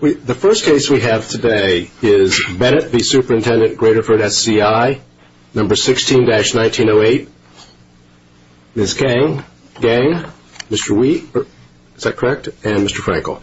The first case we have today is Bennett v. Supt Graterford SCI, No. 16-1908. Ms. Kang, Mr. Wee, is that correct? And Mr. Frankel.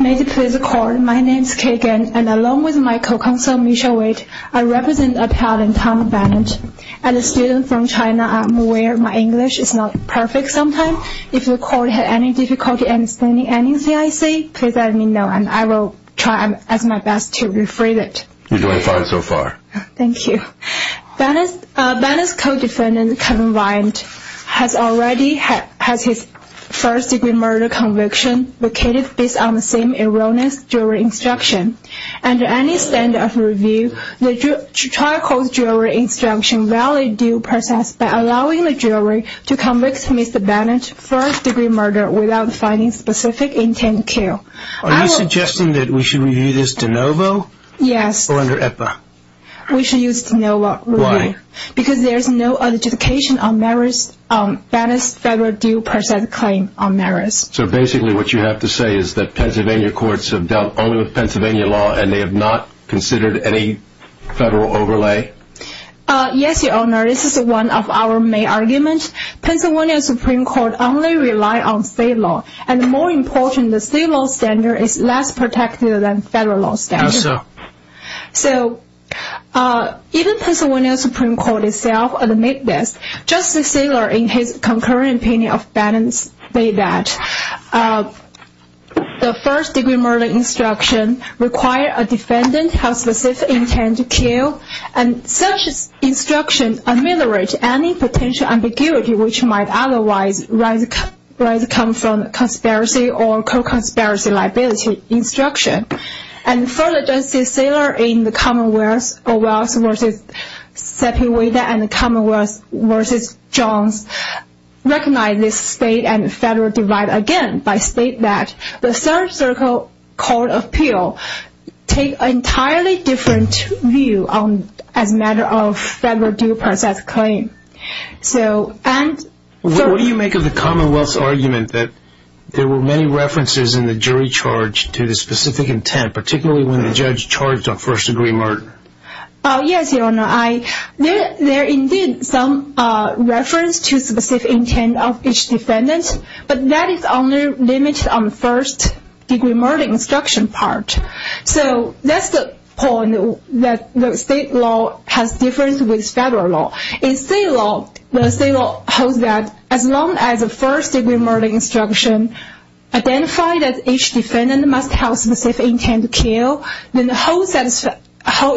May it please the court, my name is Kay Kang, and along with my co-counsel Michelle Wade, I represent a parent, Tom Bennett. As a student from China, I'm aware my English is not perfect sometimes. If the court has any difficulty understanding anything I say, please let me know, and I will try my best to rephrase it. You're doing fine so far. Thank you. Bennett's co-defendant, Kevin Vine, has already had his first-degree murder conviction located based on the same erroneous jury instruction. Under any standard of review, the trial court's jury instruction validates due process by allowing the jury to convict Mr. Bennett's first-degree murder without finding specific intent to kill. Are you suggesting that we should review this de novo? Yes. Or under EPA? We should use de novo. Why? So basically what you have to say is that Pennsylvania courts have dealt only with Pennsylvania law and they have not considered any federal overlay? Yes, Your Honor. This is one of our main arguments. Pennsylvania Supreme Court only relies on state law. And more important, the state law standard is less protective than federal law standards. How so? So, even Pennsylvania Supreme Court itself admits this. Judge Cecilio, in his concurrent opinion of Bennett's, stated that the first-degree murder instruction requires a defendant to have specific intent to kill and such instruction ameliorates any potential ambiguity which might otherwise come from conspiracy or co-conspiracy liability instruction. And further, Judge Cecilio in the Commonwealth v. Sepulveda and the Commonwealth v. Jones recognized this state and federal divide again by stating that the third-circle court appeal takes an entirely different view as a matter of federal due process claim. What do you make of the Commonwealth's argument that there were many references in the jury charge to the specific intent, particularly when the judge charged a first-degree murder? Yes, Your Honor. There are indeed some references to specific intent of each defendant, but that is only limited on the first-degree murder instruction part. So, that's the point that the state law has difference with federal law. In state law, the state law holds that as long as a first-degree murder instruction identifies that each defendant must have specific intent to kill, then the whole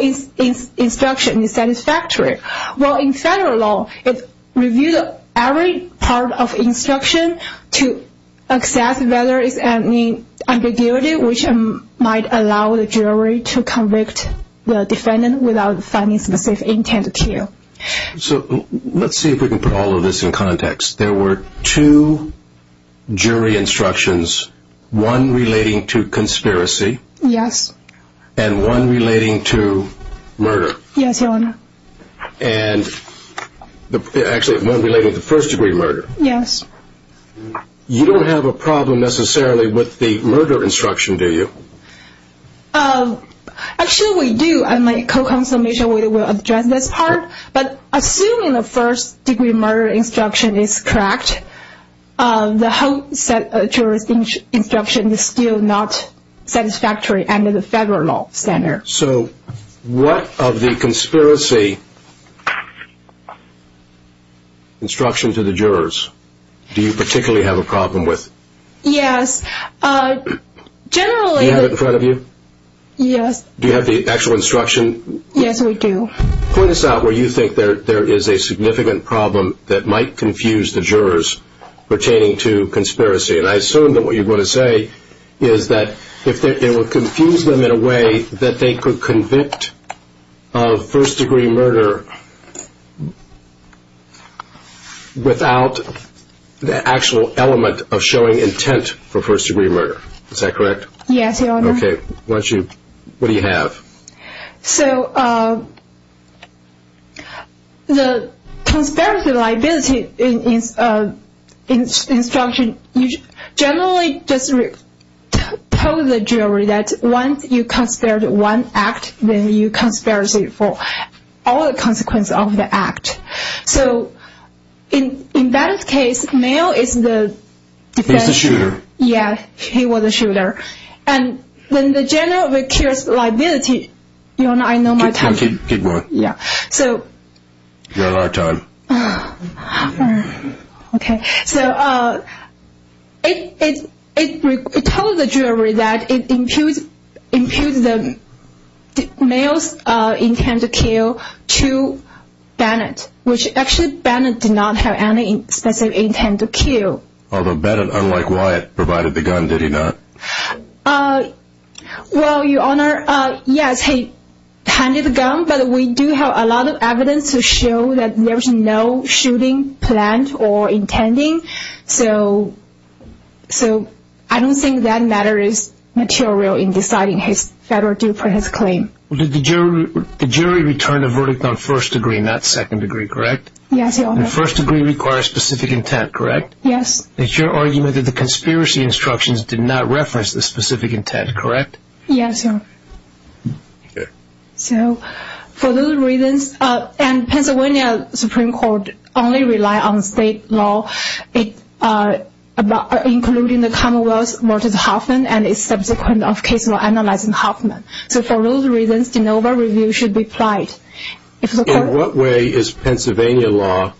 instruction is satisfactory. While in federal law, it reviews every part of instruction to assess whether there is any ambiguity which might allow the jury to convict the defendant without finding specific intent to kill. So, let's see if we can put all of this in context. There were two jury instructions, one relating to conspiracy. Yes. And one relating to murder. Yes, Your Honor. And actually, one relating to first-degree murder. Yes. You don't have a problem necessarily with the murder instruction, do you? Actually, we do. My co-consultation will address this part. But assuming the first-degree murder instruction is correct, the whole juror's instruction is still not satisfactory under the federal law standard. So, what of the conspiracy instruction to the jurors do you particularly have a problem with? Yes. Generally… Do you have it in front of you? Yes. Do you have the actual instruction? Yes, we do. Point us out where you think there is a significant problem that might confuse the jurors pertaining to conspiracy. And I assume that what you're going to say is that it will confuse them in a way that they could convict of first-degree murder without the actual element of showing intent for first-degree murder. Is that correct? Yes, Your Honor. Okay. What do you have? So, the conspiracy liability instruction, you generally just tell the jury that once you conspire one act, then you conspire for all the consequences of the act. So, in that case, the male is the… He's the shooter. Yes, he was the shooter. And then the general of the case liability… Your Honor, I know my time. Keep going. So… You have a lot of time. Okay. So, it told the jury that it imputes the male's intent to kill to Bennett, which actually Bennett did not have any specific intent to kill. Although Bennett, unlike Wyatt, provided the gun, did he not? Well, Your Honor, yes, he handed the gun, but we do have a lot of evidence to show that there was no shooting planned or intended. So, I don't think that matter is material in deciding his federal due process claim. The jury returned a verdict on first-degree, not second-degree, correct? Yes, Your Honor. And first-degree requires specific intent, correct? Yes. It's your argument that the conspiracy instructions did not reference the specific intent, correct? Yes, Your Honor. Okay. So, for those reasons… And Pennsylvania Supreme Court only relies on state law, including the commonwealth's Martin Hoffman and is subsequent of case law analyzing Hoffman. So, for those reasons, de novo review should be applied. In what way is Pennsylvania law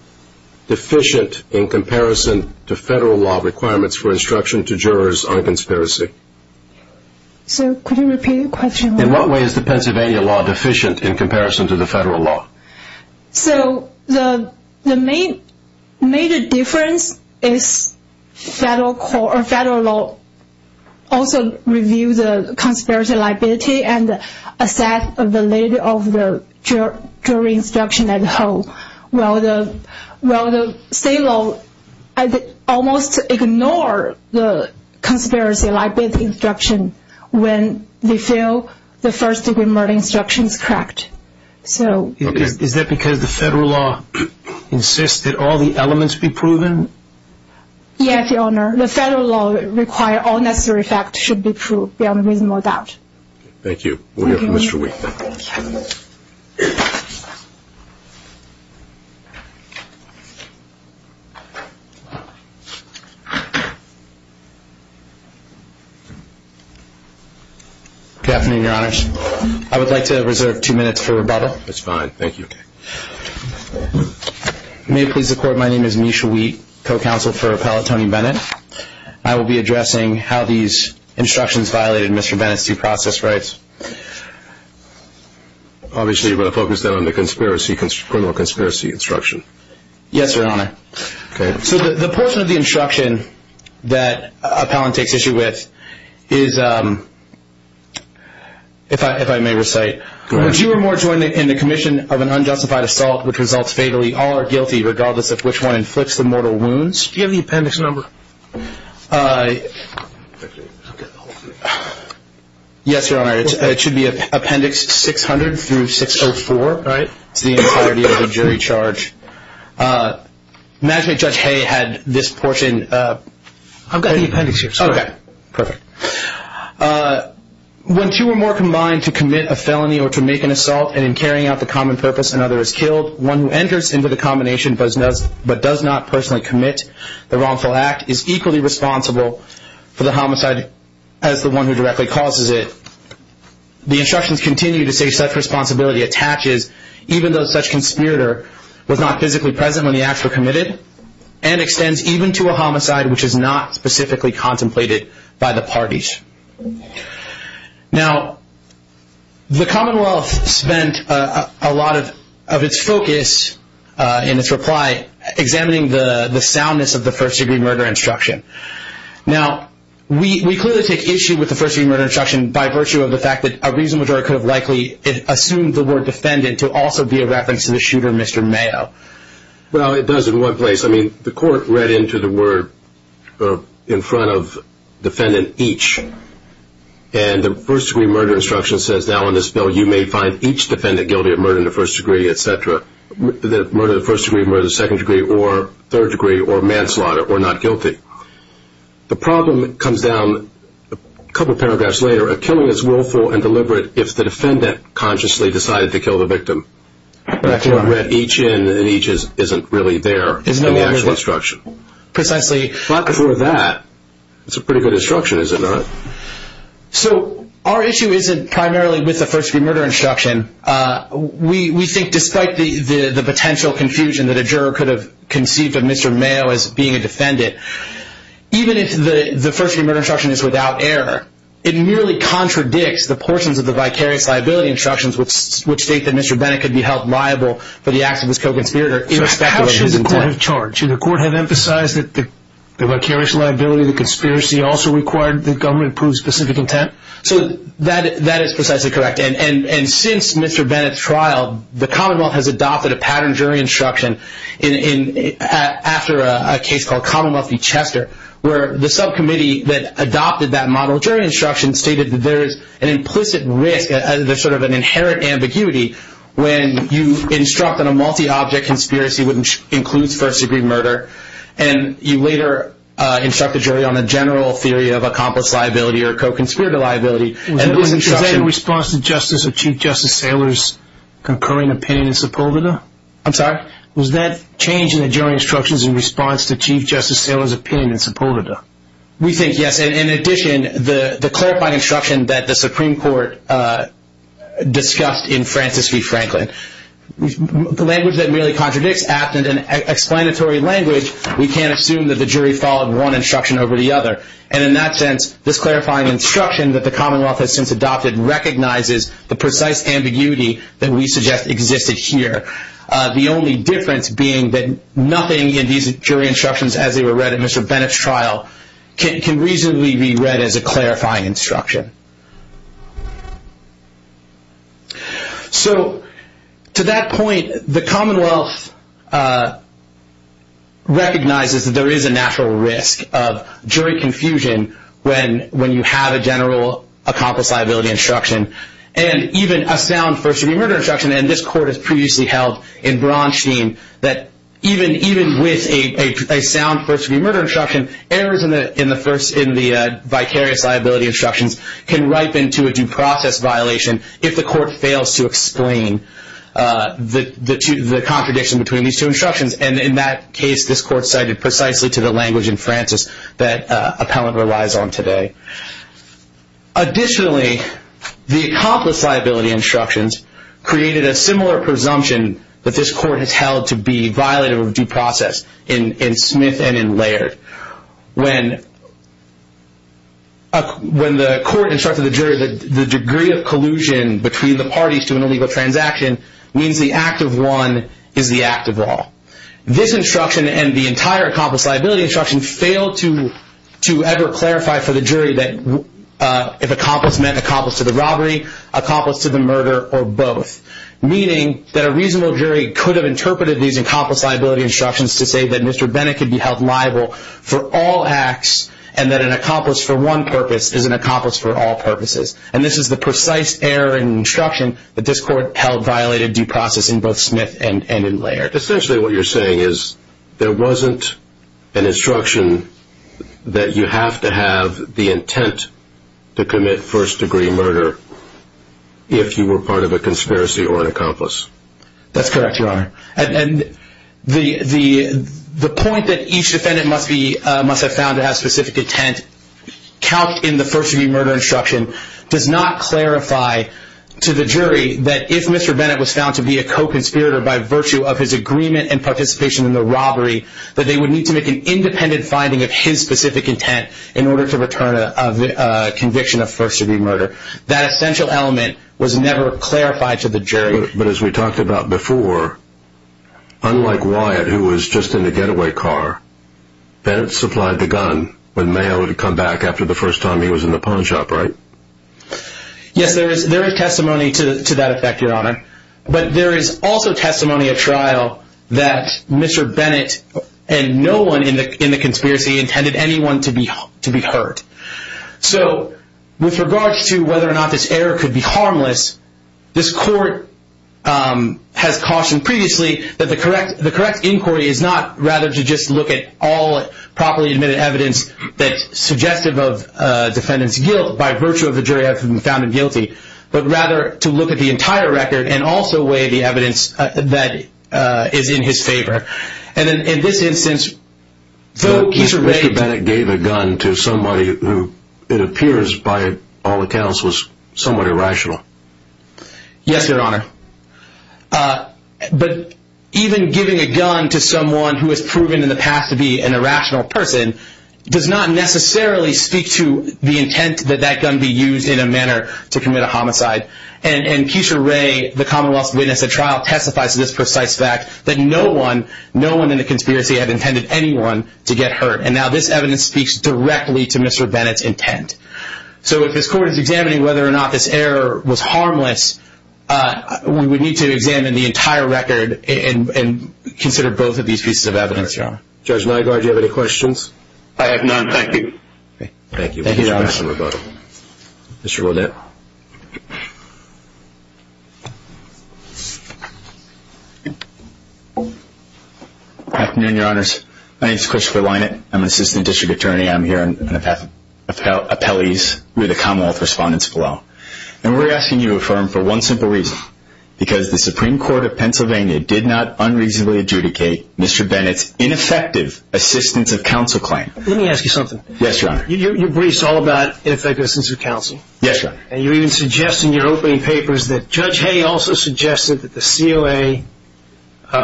deficient in comparison to federal law requirements for instruction to jurors on conspiracy? So, could you repeat the question? In what way is Pennsylvania law deficient in comparison to federal law? So, the major difference is federal law also reviews the conspiracy liability and assess the validity of the jury instruction as a whole, while state law almost ignores the conspiracy liability instruction when they feel the first-degree murder instruction is correct. Is that because the federal law insists that all the elements be proven? Yes, Your Honor. The federal law requires all necessary facts should be proved, beyond reasonable doubt. Thank you. Thank you. Good afternoon, Your Honors. I would like to reserve two minutes for rebuttal. That's fine. Thank you. May it please the Court, my name is Misha Wheat, co-counsel for Appellant Tony Bennett. I will be addressing how these instructions violated Mr. Bennett's due process rights. Obviously, you want to focus on the criminal conspiracy instruction. Yes, Your Honor. Okay. So, the portion of the instruction that Appellant takes issue with is, if I may recite, if you or more join in the commission of an unjustified assault which results fatally, all are guilty regardless of which one inflicts the mortal wounds. Do you have the appendix number? Yes, Your Honor. It should be Appendix 600 through 604. All right. It's the entirety of the jury charge. Imagine if Judge Hay had this portion. I've got the appendix here. Okay. Perfect. When two or more combine to commit a felony or to make an assault and in carrying out the common purpose another is killed, one who enters into the combination but does not personally commit the wrongful act is equally responsible for the homicide as the one who directly causes it. The instructions continue to say such responsibility attaches even though such conspirator was not physically present when the acts were committed and extends even to a homicide which is not specifically contemplated by the parties. Now, the Commonwealth spent a lot of its focus in its reply examining the soundness of the first degree murder instruction. Now, we clearly take issue with the first degree murder instruction by virtue of the fact that a reasonable jury could have likely assumed the word defendant to also be a reference to the shooter, Mr. Mayo. Well, it does in one place. I mean, the court read into the word in front of defendant each and the first degree murder instruction says now in this bill you may find each defendant guilty of murder in the first degree, etc., murder in the first degree, murder in the second degree or third degree or manslaughter or not guilty. The problem comes down a couple of paragraphs later a killing is willful and deliberate if the defendant consciously decided to kill the victim. Correct. The court read each in and each isn't really there in the actual instruction. Precisely. But for that, it's a pretty good instruction, is it not? So, our issue isn't primarily with the first degree murder instruction. We think despite the potential confusion that a juror could have conceived of Mr. Mayo as being a defendant, even if the first degree murder instruction is without error, it merely contradicts the portions of the vicarious liability instructions which state that Mr. Bennett could be held liable for the acts of his co-conspirator irrespective of his intent. So, how should the court have charged? Should the court have emphasized that the vicarious liability, the conspiracy, also required that the government approve specific intent? So, that is precisely correct. And since Mr. Bennett's trial, the commonwealth has adopted a pattern jury instruction after a case called Commonwealth v. Chester where the subcommittee that adopted that model jury instruction stated that there is an implicit risk, sort of an inherent ambiguity when you instruct on a multi-object conspiracy which includes first degree murder and you later instruct the jury on the general theory of accomplice liability or co-conspirator liability. Is that in response to Chief Justice Saylor's concurring opinion in Sepulveda? I'm sorry? Was that change in the jury instructions in response to Chief Justice Saylor's opinion in Sepulveda? We think yes. And in addition, the clarifying instruction that the Supreme Court discussed in Francis v. Franklin, the language that merely contradicts apt and an explanatory language, we can't assume that the jury followed one instruction over the other. And in that sense, this clarifying instruction that the commonwealth has since adopted recognizes the precise ambiguity that we suggest existed here. The only difference being that nothing in these jury instructions as they were read in Mr. Bennett's trial can reasonably be read as a clarifying instruction. So to that point, the commonwealth recognizes that there is a natural risk of jury confusion when you have a general accomplice liability instruction and even a sound first degree murder instruction. And this court has previously held in Braunstein that even with a sound first degree murder instruction, errors in the vicarious liability instructions can ripen to a due process violation if the court fails to explain the contradiction between these two instructions. And in that case, this court cited precisely to the language in Francis that appellant relies on today. Additionally, the accomplice liability instructions created a similar presumption that this court has held to be violative of due process in Smith and in Laird. When the court instructed the jury that the degree of collusion between the parties to an illegal transaction means the act of one is the act of all. This instruction and the entire accomplice liability instruction failed to ever clarify for the jury that if accomplice meant accomplice to the robbery, accomplice to the murder, or both. Meaning that a reasonable jury could have interpreted these accomplice liability instructions to say that Mr. Bennett could be held liable for all acts and that an accomplice for one purpose is an accomplice for all purposes. And this is the precise error in instruction that this court held violated due process in both Smith and in Laird. Essentially what you're saying is there wasn't an instruction that you have to have the intent to commit first degree murder if you were part of a conspiracy or an accomplice. That's correct, Your Honor. And the point that each defendant must have found to have specific intent calc in the first degree murder instruction does not clarify to the jury that if Mr. Bennett was found to be a co-conspirator by virtue of his agreement and participation in the robbery that they would need to make an independent finding of his specific intent in order to return a conviction of first degree murder. That essential element was never clarified to the jury. But as we talked about before, unlike Wyatt who was just in the getaway car, Bennett supplied the gun when Mayo had come back after the first time he was in the pawn shop, right? Yes, there is testimony to that effect, Your Honor. But there is also testimony at trial that Mr. Bennett and no one in the conspiracy intended anyone to be hurt. So with regards to whether or not this error could be harmless, this court has cautioned previously that the correct inquiry is not rather to just look at all properly admitted evidence that's suggestive of defendant's guilt by virtue of the jury having found him guilty, but rather to look at the entire record and also weigh the evidence that is in his favor. And in this instance, though he's arraigned... Yes, Your Honor. But even giving a gun to someone who has proven in the past to be an irrational person does not necessarily speak to the intent that that gun be used in a manner to commit a homicide. And Keisha Ray, the Commonwealth's witness at trial, testifies to this precise fact that no one in the conspiracy had intended anyone to get hurt. So if this court is examining whether or not this error was harmless, we would need to examine the entire record and consider both of these pieces of evidence, Your Honor. Judge Nygaard, do you have any questions? I have none, thank you. Thank you. Thank you, Your Honor. Mr. Rodette. Good afternoon, Your Honors. My name is Christopher Lynott. I'm an assistant district attorney. I'm here in appellees with the Commonwealth respondents below. And we're asking you to affirm for one simple reason, because the Supreme Court of Pennsylvania did not unreasonably adjudicate Mr. Bennett's ineffective assistance of counsel claim. Let me ask you something. Yes, Your Honor. You briefed all about ineffective assistance of counsel. Yes, Your Honor. And you even suggest in your opening papers that Judge Hay also suggested that the COA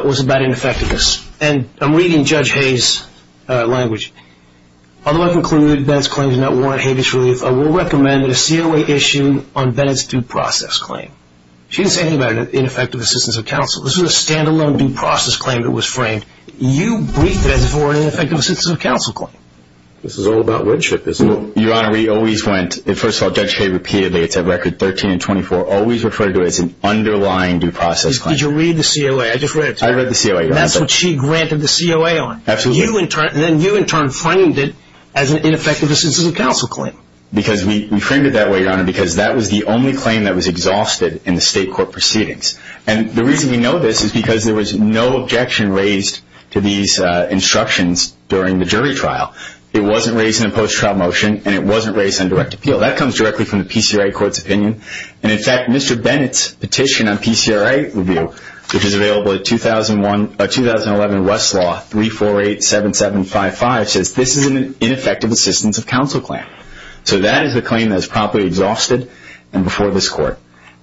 was about ineffectiveness. And I'm reading Judge Hay's language. Although I conclude that Bennett's claim does not warrant habeas relief, I will recommend that a COA issue on Bennett's due process claim. She didn't say anything about ineffective assistance of counsel. This was a stand-alone due process claim that was framed. You briefed it as if it were an ineffective assistance of counsel claim. This is all about word trip, isn't it? Your Honor, we always went, first of all, Judge Hay repeatedly, it's at record 13 and 24, always referred to it as an underlying due process claim. Did you read the COA? I just read it to you. I read the COA, Your Honor. That's what she granted the COA on. Absolutely. And then you, in turn, framed it as an ineffective assistance of counsel claim. Because we framed it that way, Your Honor, because that was the only claim that was exhausted in the state court proceedings. And the reason we know this is because there was no objection raised to these instructions during the jury trial. It wasn't raised in a post-trial motion, and it wasn't raised on direct appeal. That comes directly from the PCRA Court's opinion. And, in fact, Mr. Bennett's petition on PCRA review, which is available at 2011 Westlaw 348-7755, says this is an ineffective assistance of counsel claim. So that is a claim that is properly exhausted and before this court.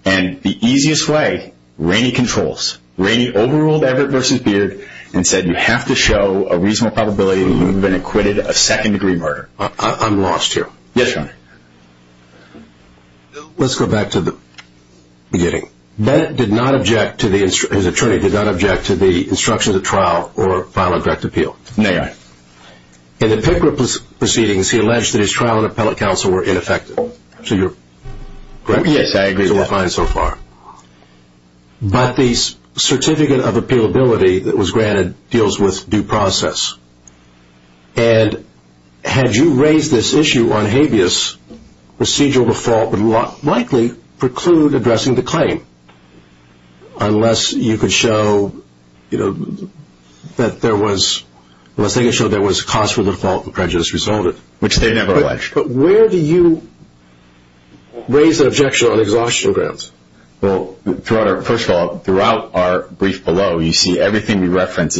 And the easiest way, Rainey controls. Rainey overruled Everett v. Beard and said you have to show a reasonable probability that he would have been acquitted of second-degree murder. I'm lost here. Yes, Your Honor. Let's go back to the beginning. Bennett did not object to the instruction, his attorney did not object to the instruction to trial or file a direct appeal. May I? In the PCRA proceedings, he alleged that his trial and appellate counsel were ineffective. So you're correct? Yes, I agree with that. It's all fine so far. But the certificate of appealability that was granted deals with due process. And had you raised this issue on habeas, procedural default would likely preclude addressing the claim, unless you could show that there was a cause for default and prejudice resulted. Which they never alleged. But where do you raise that objection on exhaustion grounds? Well, first of all, throughout our brief below, you see everything we reference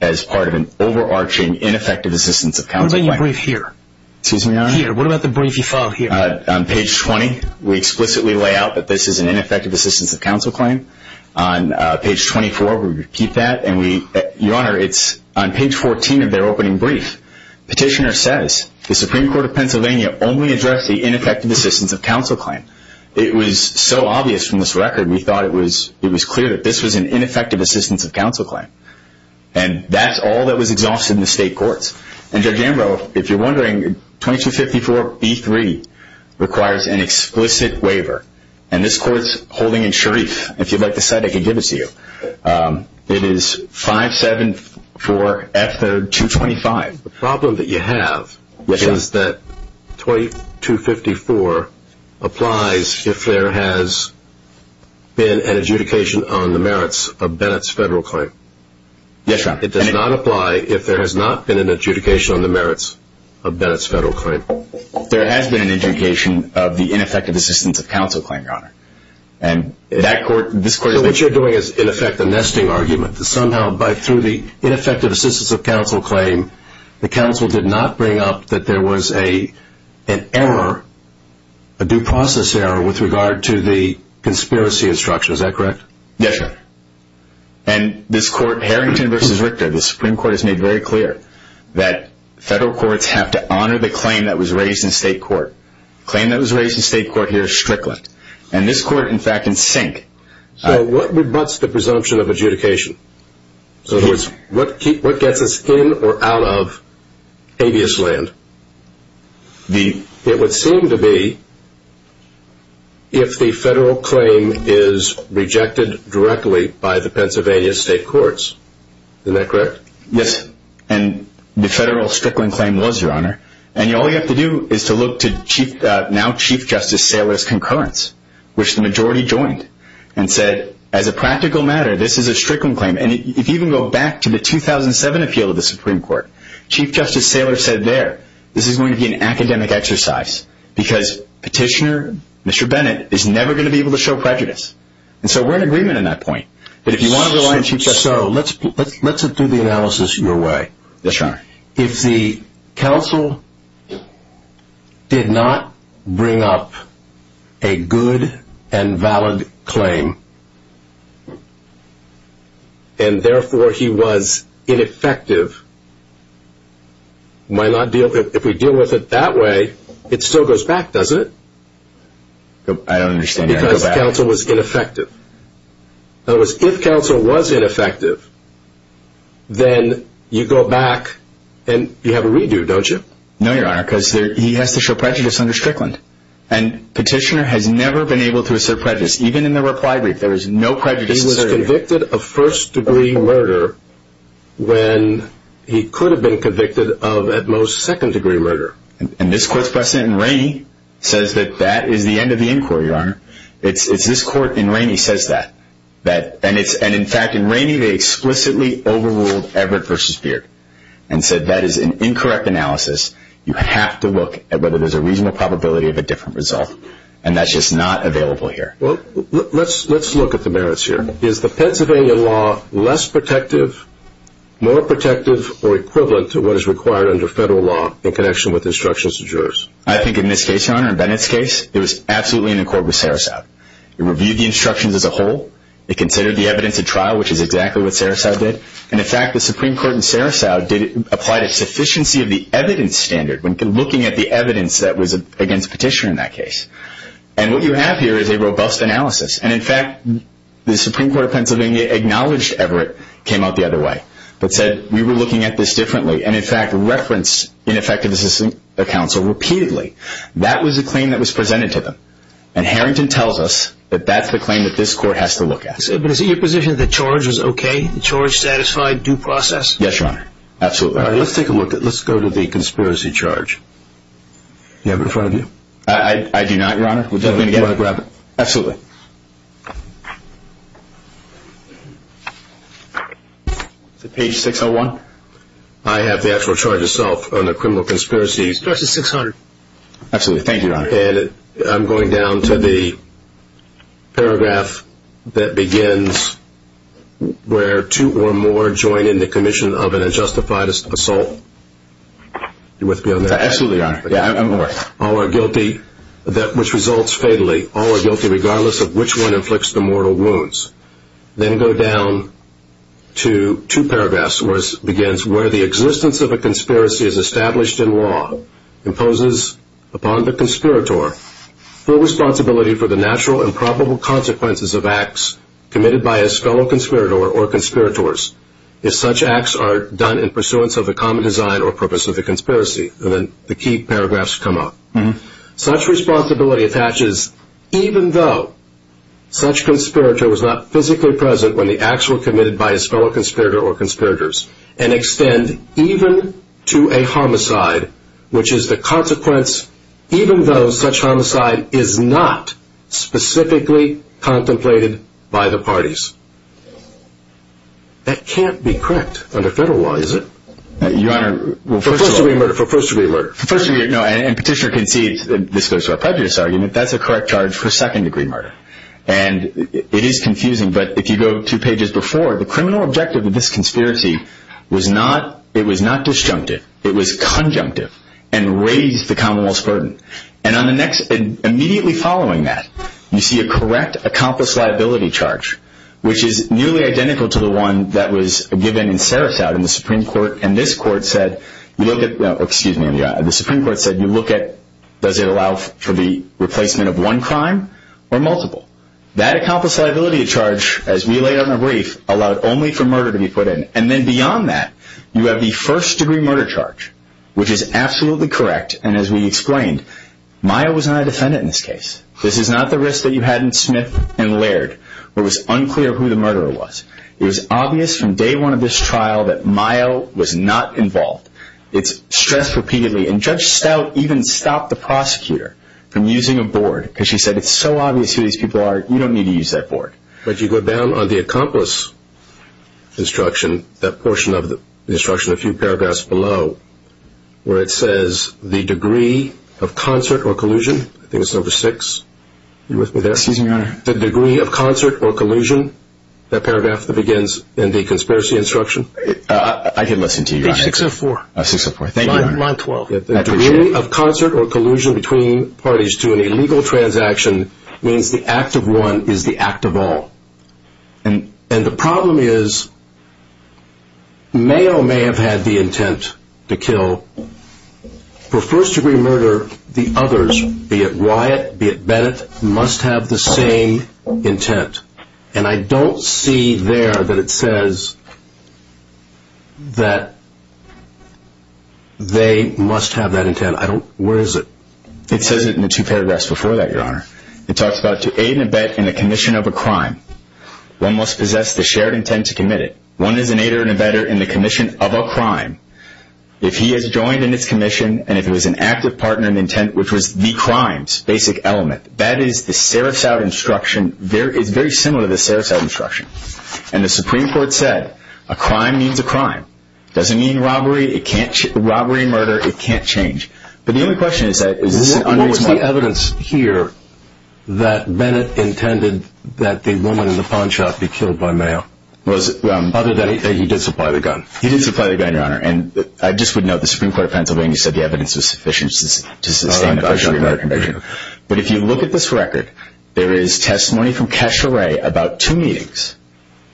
as part of an overarching ineffective assistance of counsel claim. What about your brief here? Excuse me, Your Honor? Here. What about the brief you filed here? On page 20, we explicitly lay out that this is an ineffective assistance of counsel claim. On page 24, we repeat that. Your Honor, it's on page 14 of their opening brief. Petitioner says, the Supreme Court of Pennsylvania only addressed the ineffective assistance of counsel claim. It was so obvious from this record, we thought it was clear that this was an ineffective assistance of counsel claim. And that's all that was exhausted in the state courts. And Judge Ambrose, if you're wondering, 2254B3 requires an explicit waiver. And this court's holding in Sharif. If you'd like to cite it, I can give it to you. It is 574F225. The problem that you have is that 2254 applies if there has been an adjudication on the merits of Bennett's federal claim. Yes, Your Honor. It does not apply if there has not been an adjudication on the merits of Bennett's federal claim. There has been an adjudication of the ineffective assistance of counsel claim, Your Honor. What you're doing is, in effect, a nesting argument. Somehow, through the ineffective assistance of counsel claim, the counsel did not bring up that there was an error, a due process error, with regard to the conspiracy instruction. Is that correct? Yes, Your Honor. And this court, Harrington v. Richter, the Supreme Court has made very clear that federal courts have to honor the claim that was raised in state court. The claim that was raised in state court here is Strickland. And this court, in fact, in Sink. So what rebutts the presumption of adjudication? In other words, what gets us in or out of habeas land? It would seem to be if the federal claim is rejected directly by the Pennsylvania state courts. Isn't that correct? Yes. And the federal Strickland claim was, Your Honor. And all you have to do is to look to now Chief Justice Saylor's concurrence, which the majority joined, and said, as a practical matter, this is a Strickland claim. And if you can go back to the 2007 appeal of the Supreme Court, Chief Justice Saylor said there, this is going to be an academic exercise because Petitioner, Mr. Bennett, is never going to be able to show prejudice. And so we're in agreement on that point. But if you want to rely on Chief Justice Saylor. Yes, Your Honor. If the counsel did not bring up a good and valid claim, and therefore he was ineffective, if we deal with it that way, it still goes back, doesn't it? I don't understand. Because the counsel was ineffective. In other words, if counsel was ineffective, then you go back and you have a redo, don't you? No, Your Honor, because he has to show prejudice under Strickland. And Petitioner has never been able to assert prejudice. Even in the reply brief, there was no prejudice asserted. He was convicted of first-degree murder when he could have been convicted of, at most, second-degree murder. And this court's precedent in Rainey says that that is the end of the inquiry, Your Honor. This court in Rainey says that. And in fact, in Rainey, they explicitly overruled Everett v. Beard and said that is an incorrect analysis. You have to look at whether there's a reasonable probability of a different result. And that's just not available here. Well, let's look at the merits here. Is the Pennsylvania law less protective, more protective, or equivalent to what is required under federal law in connection with instructions to jurors? I think in this case, Your Honor, in Bennett's case, it was absolutely in accord with Sarasow. It reviewed the instructions as a whole. It considered the evidence at trial, which is exactly what Sarasow did. And in fact, the Supreme Court in Sarasow applied a sufficiency of the evidence standard when looking at the evidence that was against Petitioner in that case. And what you have here is a robust analysis. And in fact, the Supreme Court of Pennsylvania acknowledged Everett came out the other way but said we were looking at this differently and in fact referenced ineffective assistant counsel repeatedly. That was the claim that was presented to them. And Harrington tells us that that's the claim that this court has to look at. But is it your position that the charge was okay? The charge satisfied due process? Yes, Your Honor. Absolutely. All right. Let's take a look at it. Let's go to the conspiracy charge. Do you have it in front of you? I do not, Your Honor. Do you want to grab it? Absolutely. Is it page 601? I have the actual charge itself on a criminal conspiracy. The charge is 600. Absolutely. Thank you, Your Honor. And I'm going down to the paragraph that begins where two or more join in the commission of an unjustified assault. Are you with me on that? Absolutely, Your Honor. All are guilty regardless of the charge. Regardless of which one inflicts the mortal wounds. Then go down to two paragraphs where it begins, where the existence of a conspiracy as established in law imposes upon the conspirator full responsibility for the natural and probable consequences of acts committed by a fellow conspirator or conspirators if such acts are done in pursuance of a common design or purpose of the conspiracy. And then the key paragraphs come up. Such responsibility attaches even though such conspirator was not physically present when the acts were committed by his fellow conspirator or conspirators and extend even to a homicide which is the consequence even though such homicide is not specifically contemplated by the parties. That can't be correct under federal law, is it? Your Honor, well first of all... For first degree murder, for first degree murder. And petitioner concedes, this goes to our prejudice argument, that's a correct charge for second degree murder. And it is confusing, but if you go two pages before, the criminal objective of this conspiracy was not disjunctive, it was conjunctive and raised the Commonwealth's burden. And immediately following that, you see a correct accomplice liability charge which is nearly identical to the one that was given in Sarasota in the Supreme Court and the Supreme Court said, you look at, does it allow for the replacement of one crime or multiple? That accomplice liability charge, as we laid out in the brief, allowed only for murder to be put in. And then beyond that, you have the first degree murder charge, which is absolutely correct and as we explained, Mayo was not a defendant in this case. This is not the risk that you had in Smith and Laird. It was unclear who the murderer was. It was obvious from day one of this trial that Mayo was not involved. It's stressed repeatedly. And Judge Stout even stopped the prosecutor from using a board because she said it's so obvious who these people are, you don't need to use that board. But you go down on the accomplice instruction, that portion of the instruction, a few paragraphs below, where it says the degree of concert or collusion, I think it's number six, are you with me there? Excuse me, Your Honor. The degree of concert or collusion, that paragraph that begins in the conspiracy instruction? I didn't listen to you, Your Honor. Page 604. 604, thank you, Your Honor. Line 12. The degree of concert or collusion between parties to an illegal transaction means the act of one is the act of all. And the problem is, Mayo may have had the intent to kill. For first degree murder, the others, be it Wyatt, be it Bennett, must have the same intent. And I don't see there that it says that they must have that intent. Where is it? It says it in the two paragraphs before that, Your Honor. It talks about to aid and abet in the commission of a crime. One must possess the shared intent to commit it. One is an aider and abetter in the commission of a crime. If he is joined in its commission and if it was an active partner in the intent, which was the crime's basic element, that is the Sarasota instruction. It's very similar to the Sarasota instruction. And the Supreme Court said a crime means a crime. It doesn't mean robbery. It can't change. Robbery and murder, it can't change. But the only question is that is this an unreasonable intent? What was the evidence here that Bennett intended that the woman in the pawn shop be killed by Mayo? Other than he did supply the gun. He did supply the gun, Your Honor. And I just would note the Supreme Court of Pennsylvania said the evidence was sufficient to sustain the conviction. But if you look at this record, there is testimony from Kesha Ray about two meetings,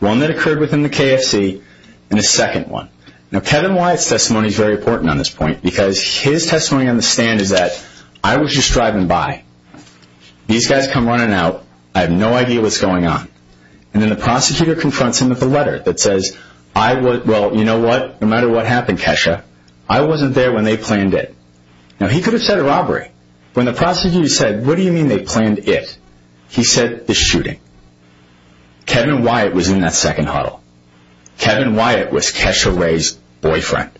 one that occurred within the KFC and a second one. Now Kevin Wyatt's testimony is very important on this point because his testimony on the stand is that I was just driving by. These guys come running out. I have no idea what's going on. And then the prosecutor confronts him with a letter that says, Well, you know what, no matter what happened, Kesha, I wasn't there when they planned it. Now he could have said a robbery. When the prosecutor said, what do you mean they planned it? He said the shooting. Kevin Wyatt was in that second huddle. Kevin Wyatt was Kesha Ray's boyfriend.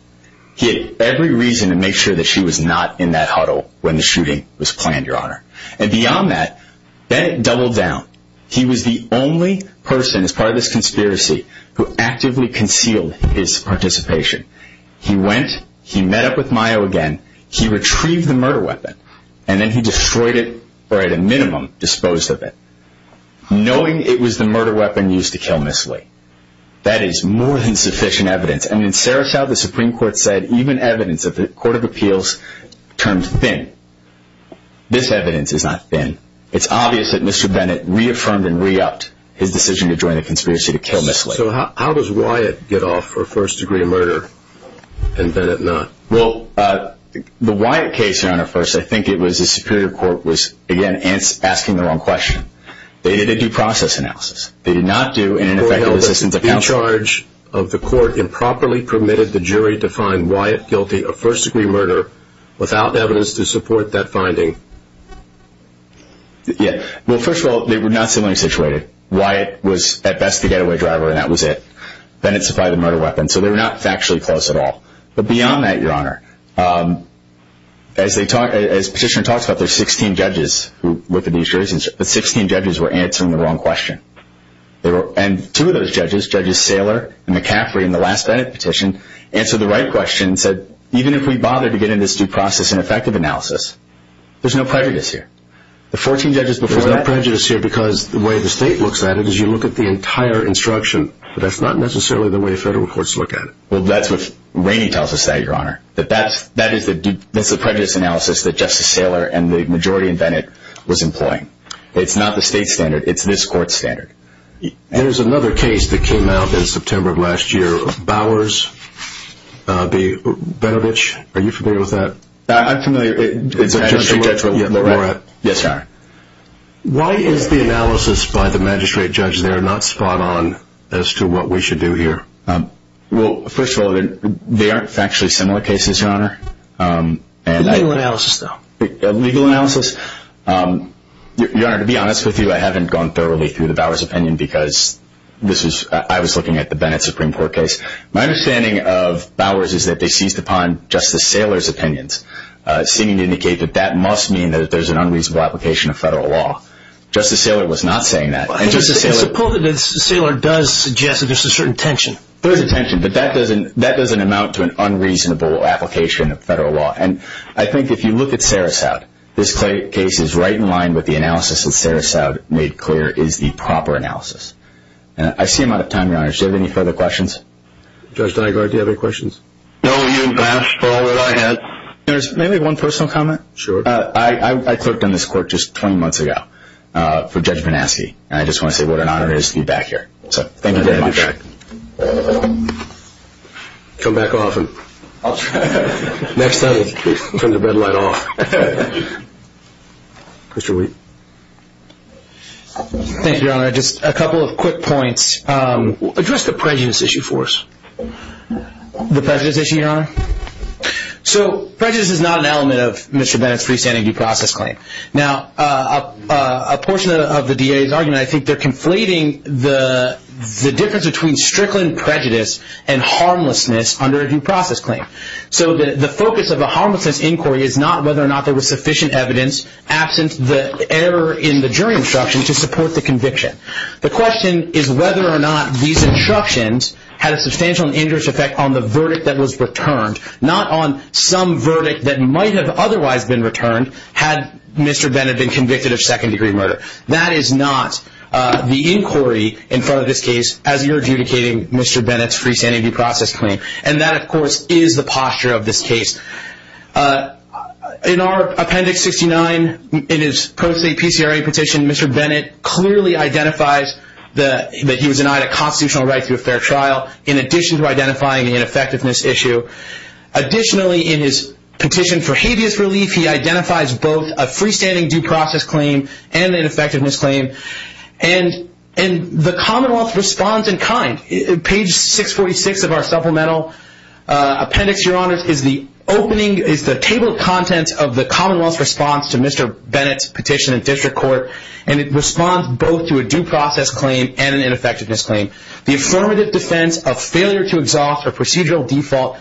He had every reason to make sure that she was not in that huddle when the shooting was planned, Your Honor. And beyond that, Bennett doubled down. He was the only person as part of this conspiracy who actively concealed his participation. He went, he met up with Mayo again, he retrieved the murder weapon, and then he destroyed it or at a minimum disposed of it, knowing it was the murder weapon used to kill Ms. Lee. That is more than sufficient evidence. And in Sarasota, the Supreme Court said even evidence of the Court of Appeals termed thin. This evidence is not thin. It's obvious that Mr. Bennett reaffirmed and re-upped his decision to join the conspiracy to kill Ms. Lee. So how does Wyatt get off for a first degree murder and Bennett not? Well, the Wyatt case, Your Honor, first, I think it was the Superior Court was, again, asking the wrong question. They did a due process analysis. They did not do an ineffective assistance of counsel. Was the charge of the court improperly permitted the jury to find Wyatt guilty of first degree murder without evidence to support that finding? Yeah. Well, first of all, they were not similarly situated. Wyatt was, at best, the getaway driver and that was it. Bennett supplied the murder weapon. So they were not factually close at all. But beyond that, Your Honor, as Petitioner talks about, there are 16 judges who worked at these juries, and 16 judges were answering the wrong question. And two of those judges, Judges Saylor and McCaffrey in the last Bennett petition, answered the right question and said, even if we bother to get into this due process and effective analysis, there's no prejudice here. There's no prejudice here because the way the state looks at it is you look at the entire instruction. That's not necessarily the way federal courts look at it. Well, that's what Rainey tells us, Your Honor. That that's the prejudice analysis that Justice Saylor and the majority in Bennett was employing. It's not the state standard. It's this court's standard. There's another case that came out in September of last year, Bowers v. Benovich. Are you familiar with that? I'm familiar. It's a magistrate judge. Yes, Your Honor. Why is the analysis by the magistrate judge there not spot on as to what we should do here? Well, first of all, they aren't factually similar cases, Your Honor. Legal analysis, though. Legal analysis. Your Honor, to be honest with you, I haven't gone thoroughly through the Bowers opinion because I was looking at the Bennett Supreme Court case. My understanding of Bowers is that they seized upon Justice Saylor's opinions, seeming to indicate that that must mean that there's an unreasonable application of federal law. Justice Saylor was not saying that. It's supposed that Saylor does suggest that there's a certain tension. There's a tension, but that doesn't amount to an unreasonable application of federal law. And I think if you look at Sarasoud, this case is right in line with the analysis that Sarasoud made clear is the proper analysis. I see I'm out of time, Your Honor. Do you have any further questions? Judge Dygart, do you have any questions? No, you've asked for all that I had. May I make one personal comment? Sure. I clerked on this court just 20 months ago for Judge Van Aske. And I just want to say what an honor it is to be back here. So thank you very much. Come back often. Next time, turn the bed light off. Mr. Wheat. Thank you, Your Honor. Just a couple of quick points. Address the prejudice issue for us. The prejudice issue, Your Honor? So prejudice is not an element of Mr. Bennett's freestanding due process claim. Now, a portion of the DA's argument, I think they're conflating the difference between strickling prejudice and harmlessness under a due process claim. So the focus of a harmlessness inquiry is not whether or not there was sufficient evidence, absent the error in the jury instruction, to support the conviction. The question is whether or not these instructions had a substantial and injurious effect on the verdict that was returned, not on some verdict that might have otherwise been returned had Mr. Bennett been convicted of second-degree murder. That is not the inquiry in front of this case as you're adjudicating Mr. Bennett's freestanding due process claim. And that, of course, is the posture of this case. In our Appendix 69, in his pro se PCRA petition, Mr. Bennett clearly identifies that he was denied a constitutional right to a fair trial, in addition to identifying the ineffectiveness issue. Additionally, in his petition for habeas relief, he identifies both a freestanding due process claim and an ineffectiveness claim. And the Commonwealth responds in kind. Page 646 of our supplemental appendix, Your Honors, is the table of contents of the Commonwealth's response to Mr. Bennett's petition in district court, and it responds both to a due process claim and an ineffectiveness claim. The affirmative defense of failure to exhaust a procedural default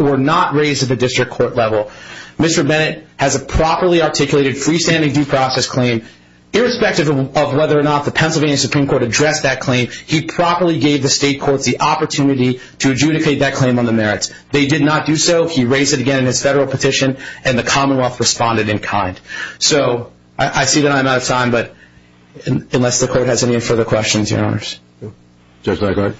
were not raised at the district court level. Mr. Bennett has a properly articulated freestanding due process claim. Irrespective of whether or not the Pennsylvania Supreme Court addressed that claim, he properly gave the state courts the opportunity to adjudicate that claim on the merits. They did not do so. He raised it again in his federal petition, and the Commonwealth responded in kind. So, I see that I'm out of time, but unless the court has any further questions, Your Honors. Judge Legard?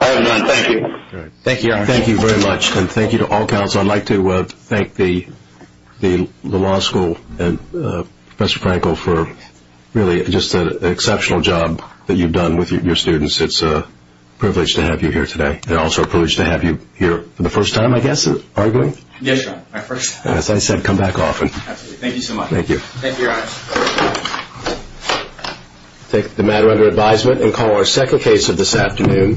I have none. Thank you. Thank you, Your Honor. Thank you very much, and thank you to all counsel. I'd like to thank the law school and Professor Frankel for really just an exceptional job that you've done with your students. It's a privilege to have you here today. It's also a privilege to have you here for the first time, I guess, arguing? Yes, Your Honor, my first time. As I said, come back often. Absolutely. Thank you so much. Thank you. Thank you, Your Honor. Take the matter under advisement and call our second case of this afternoon.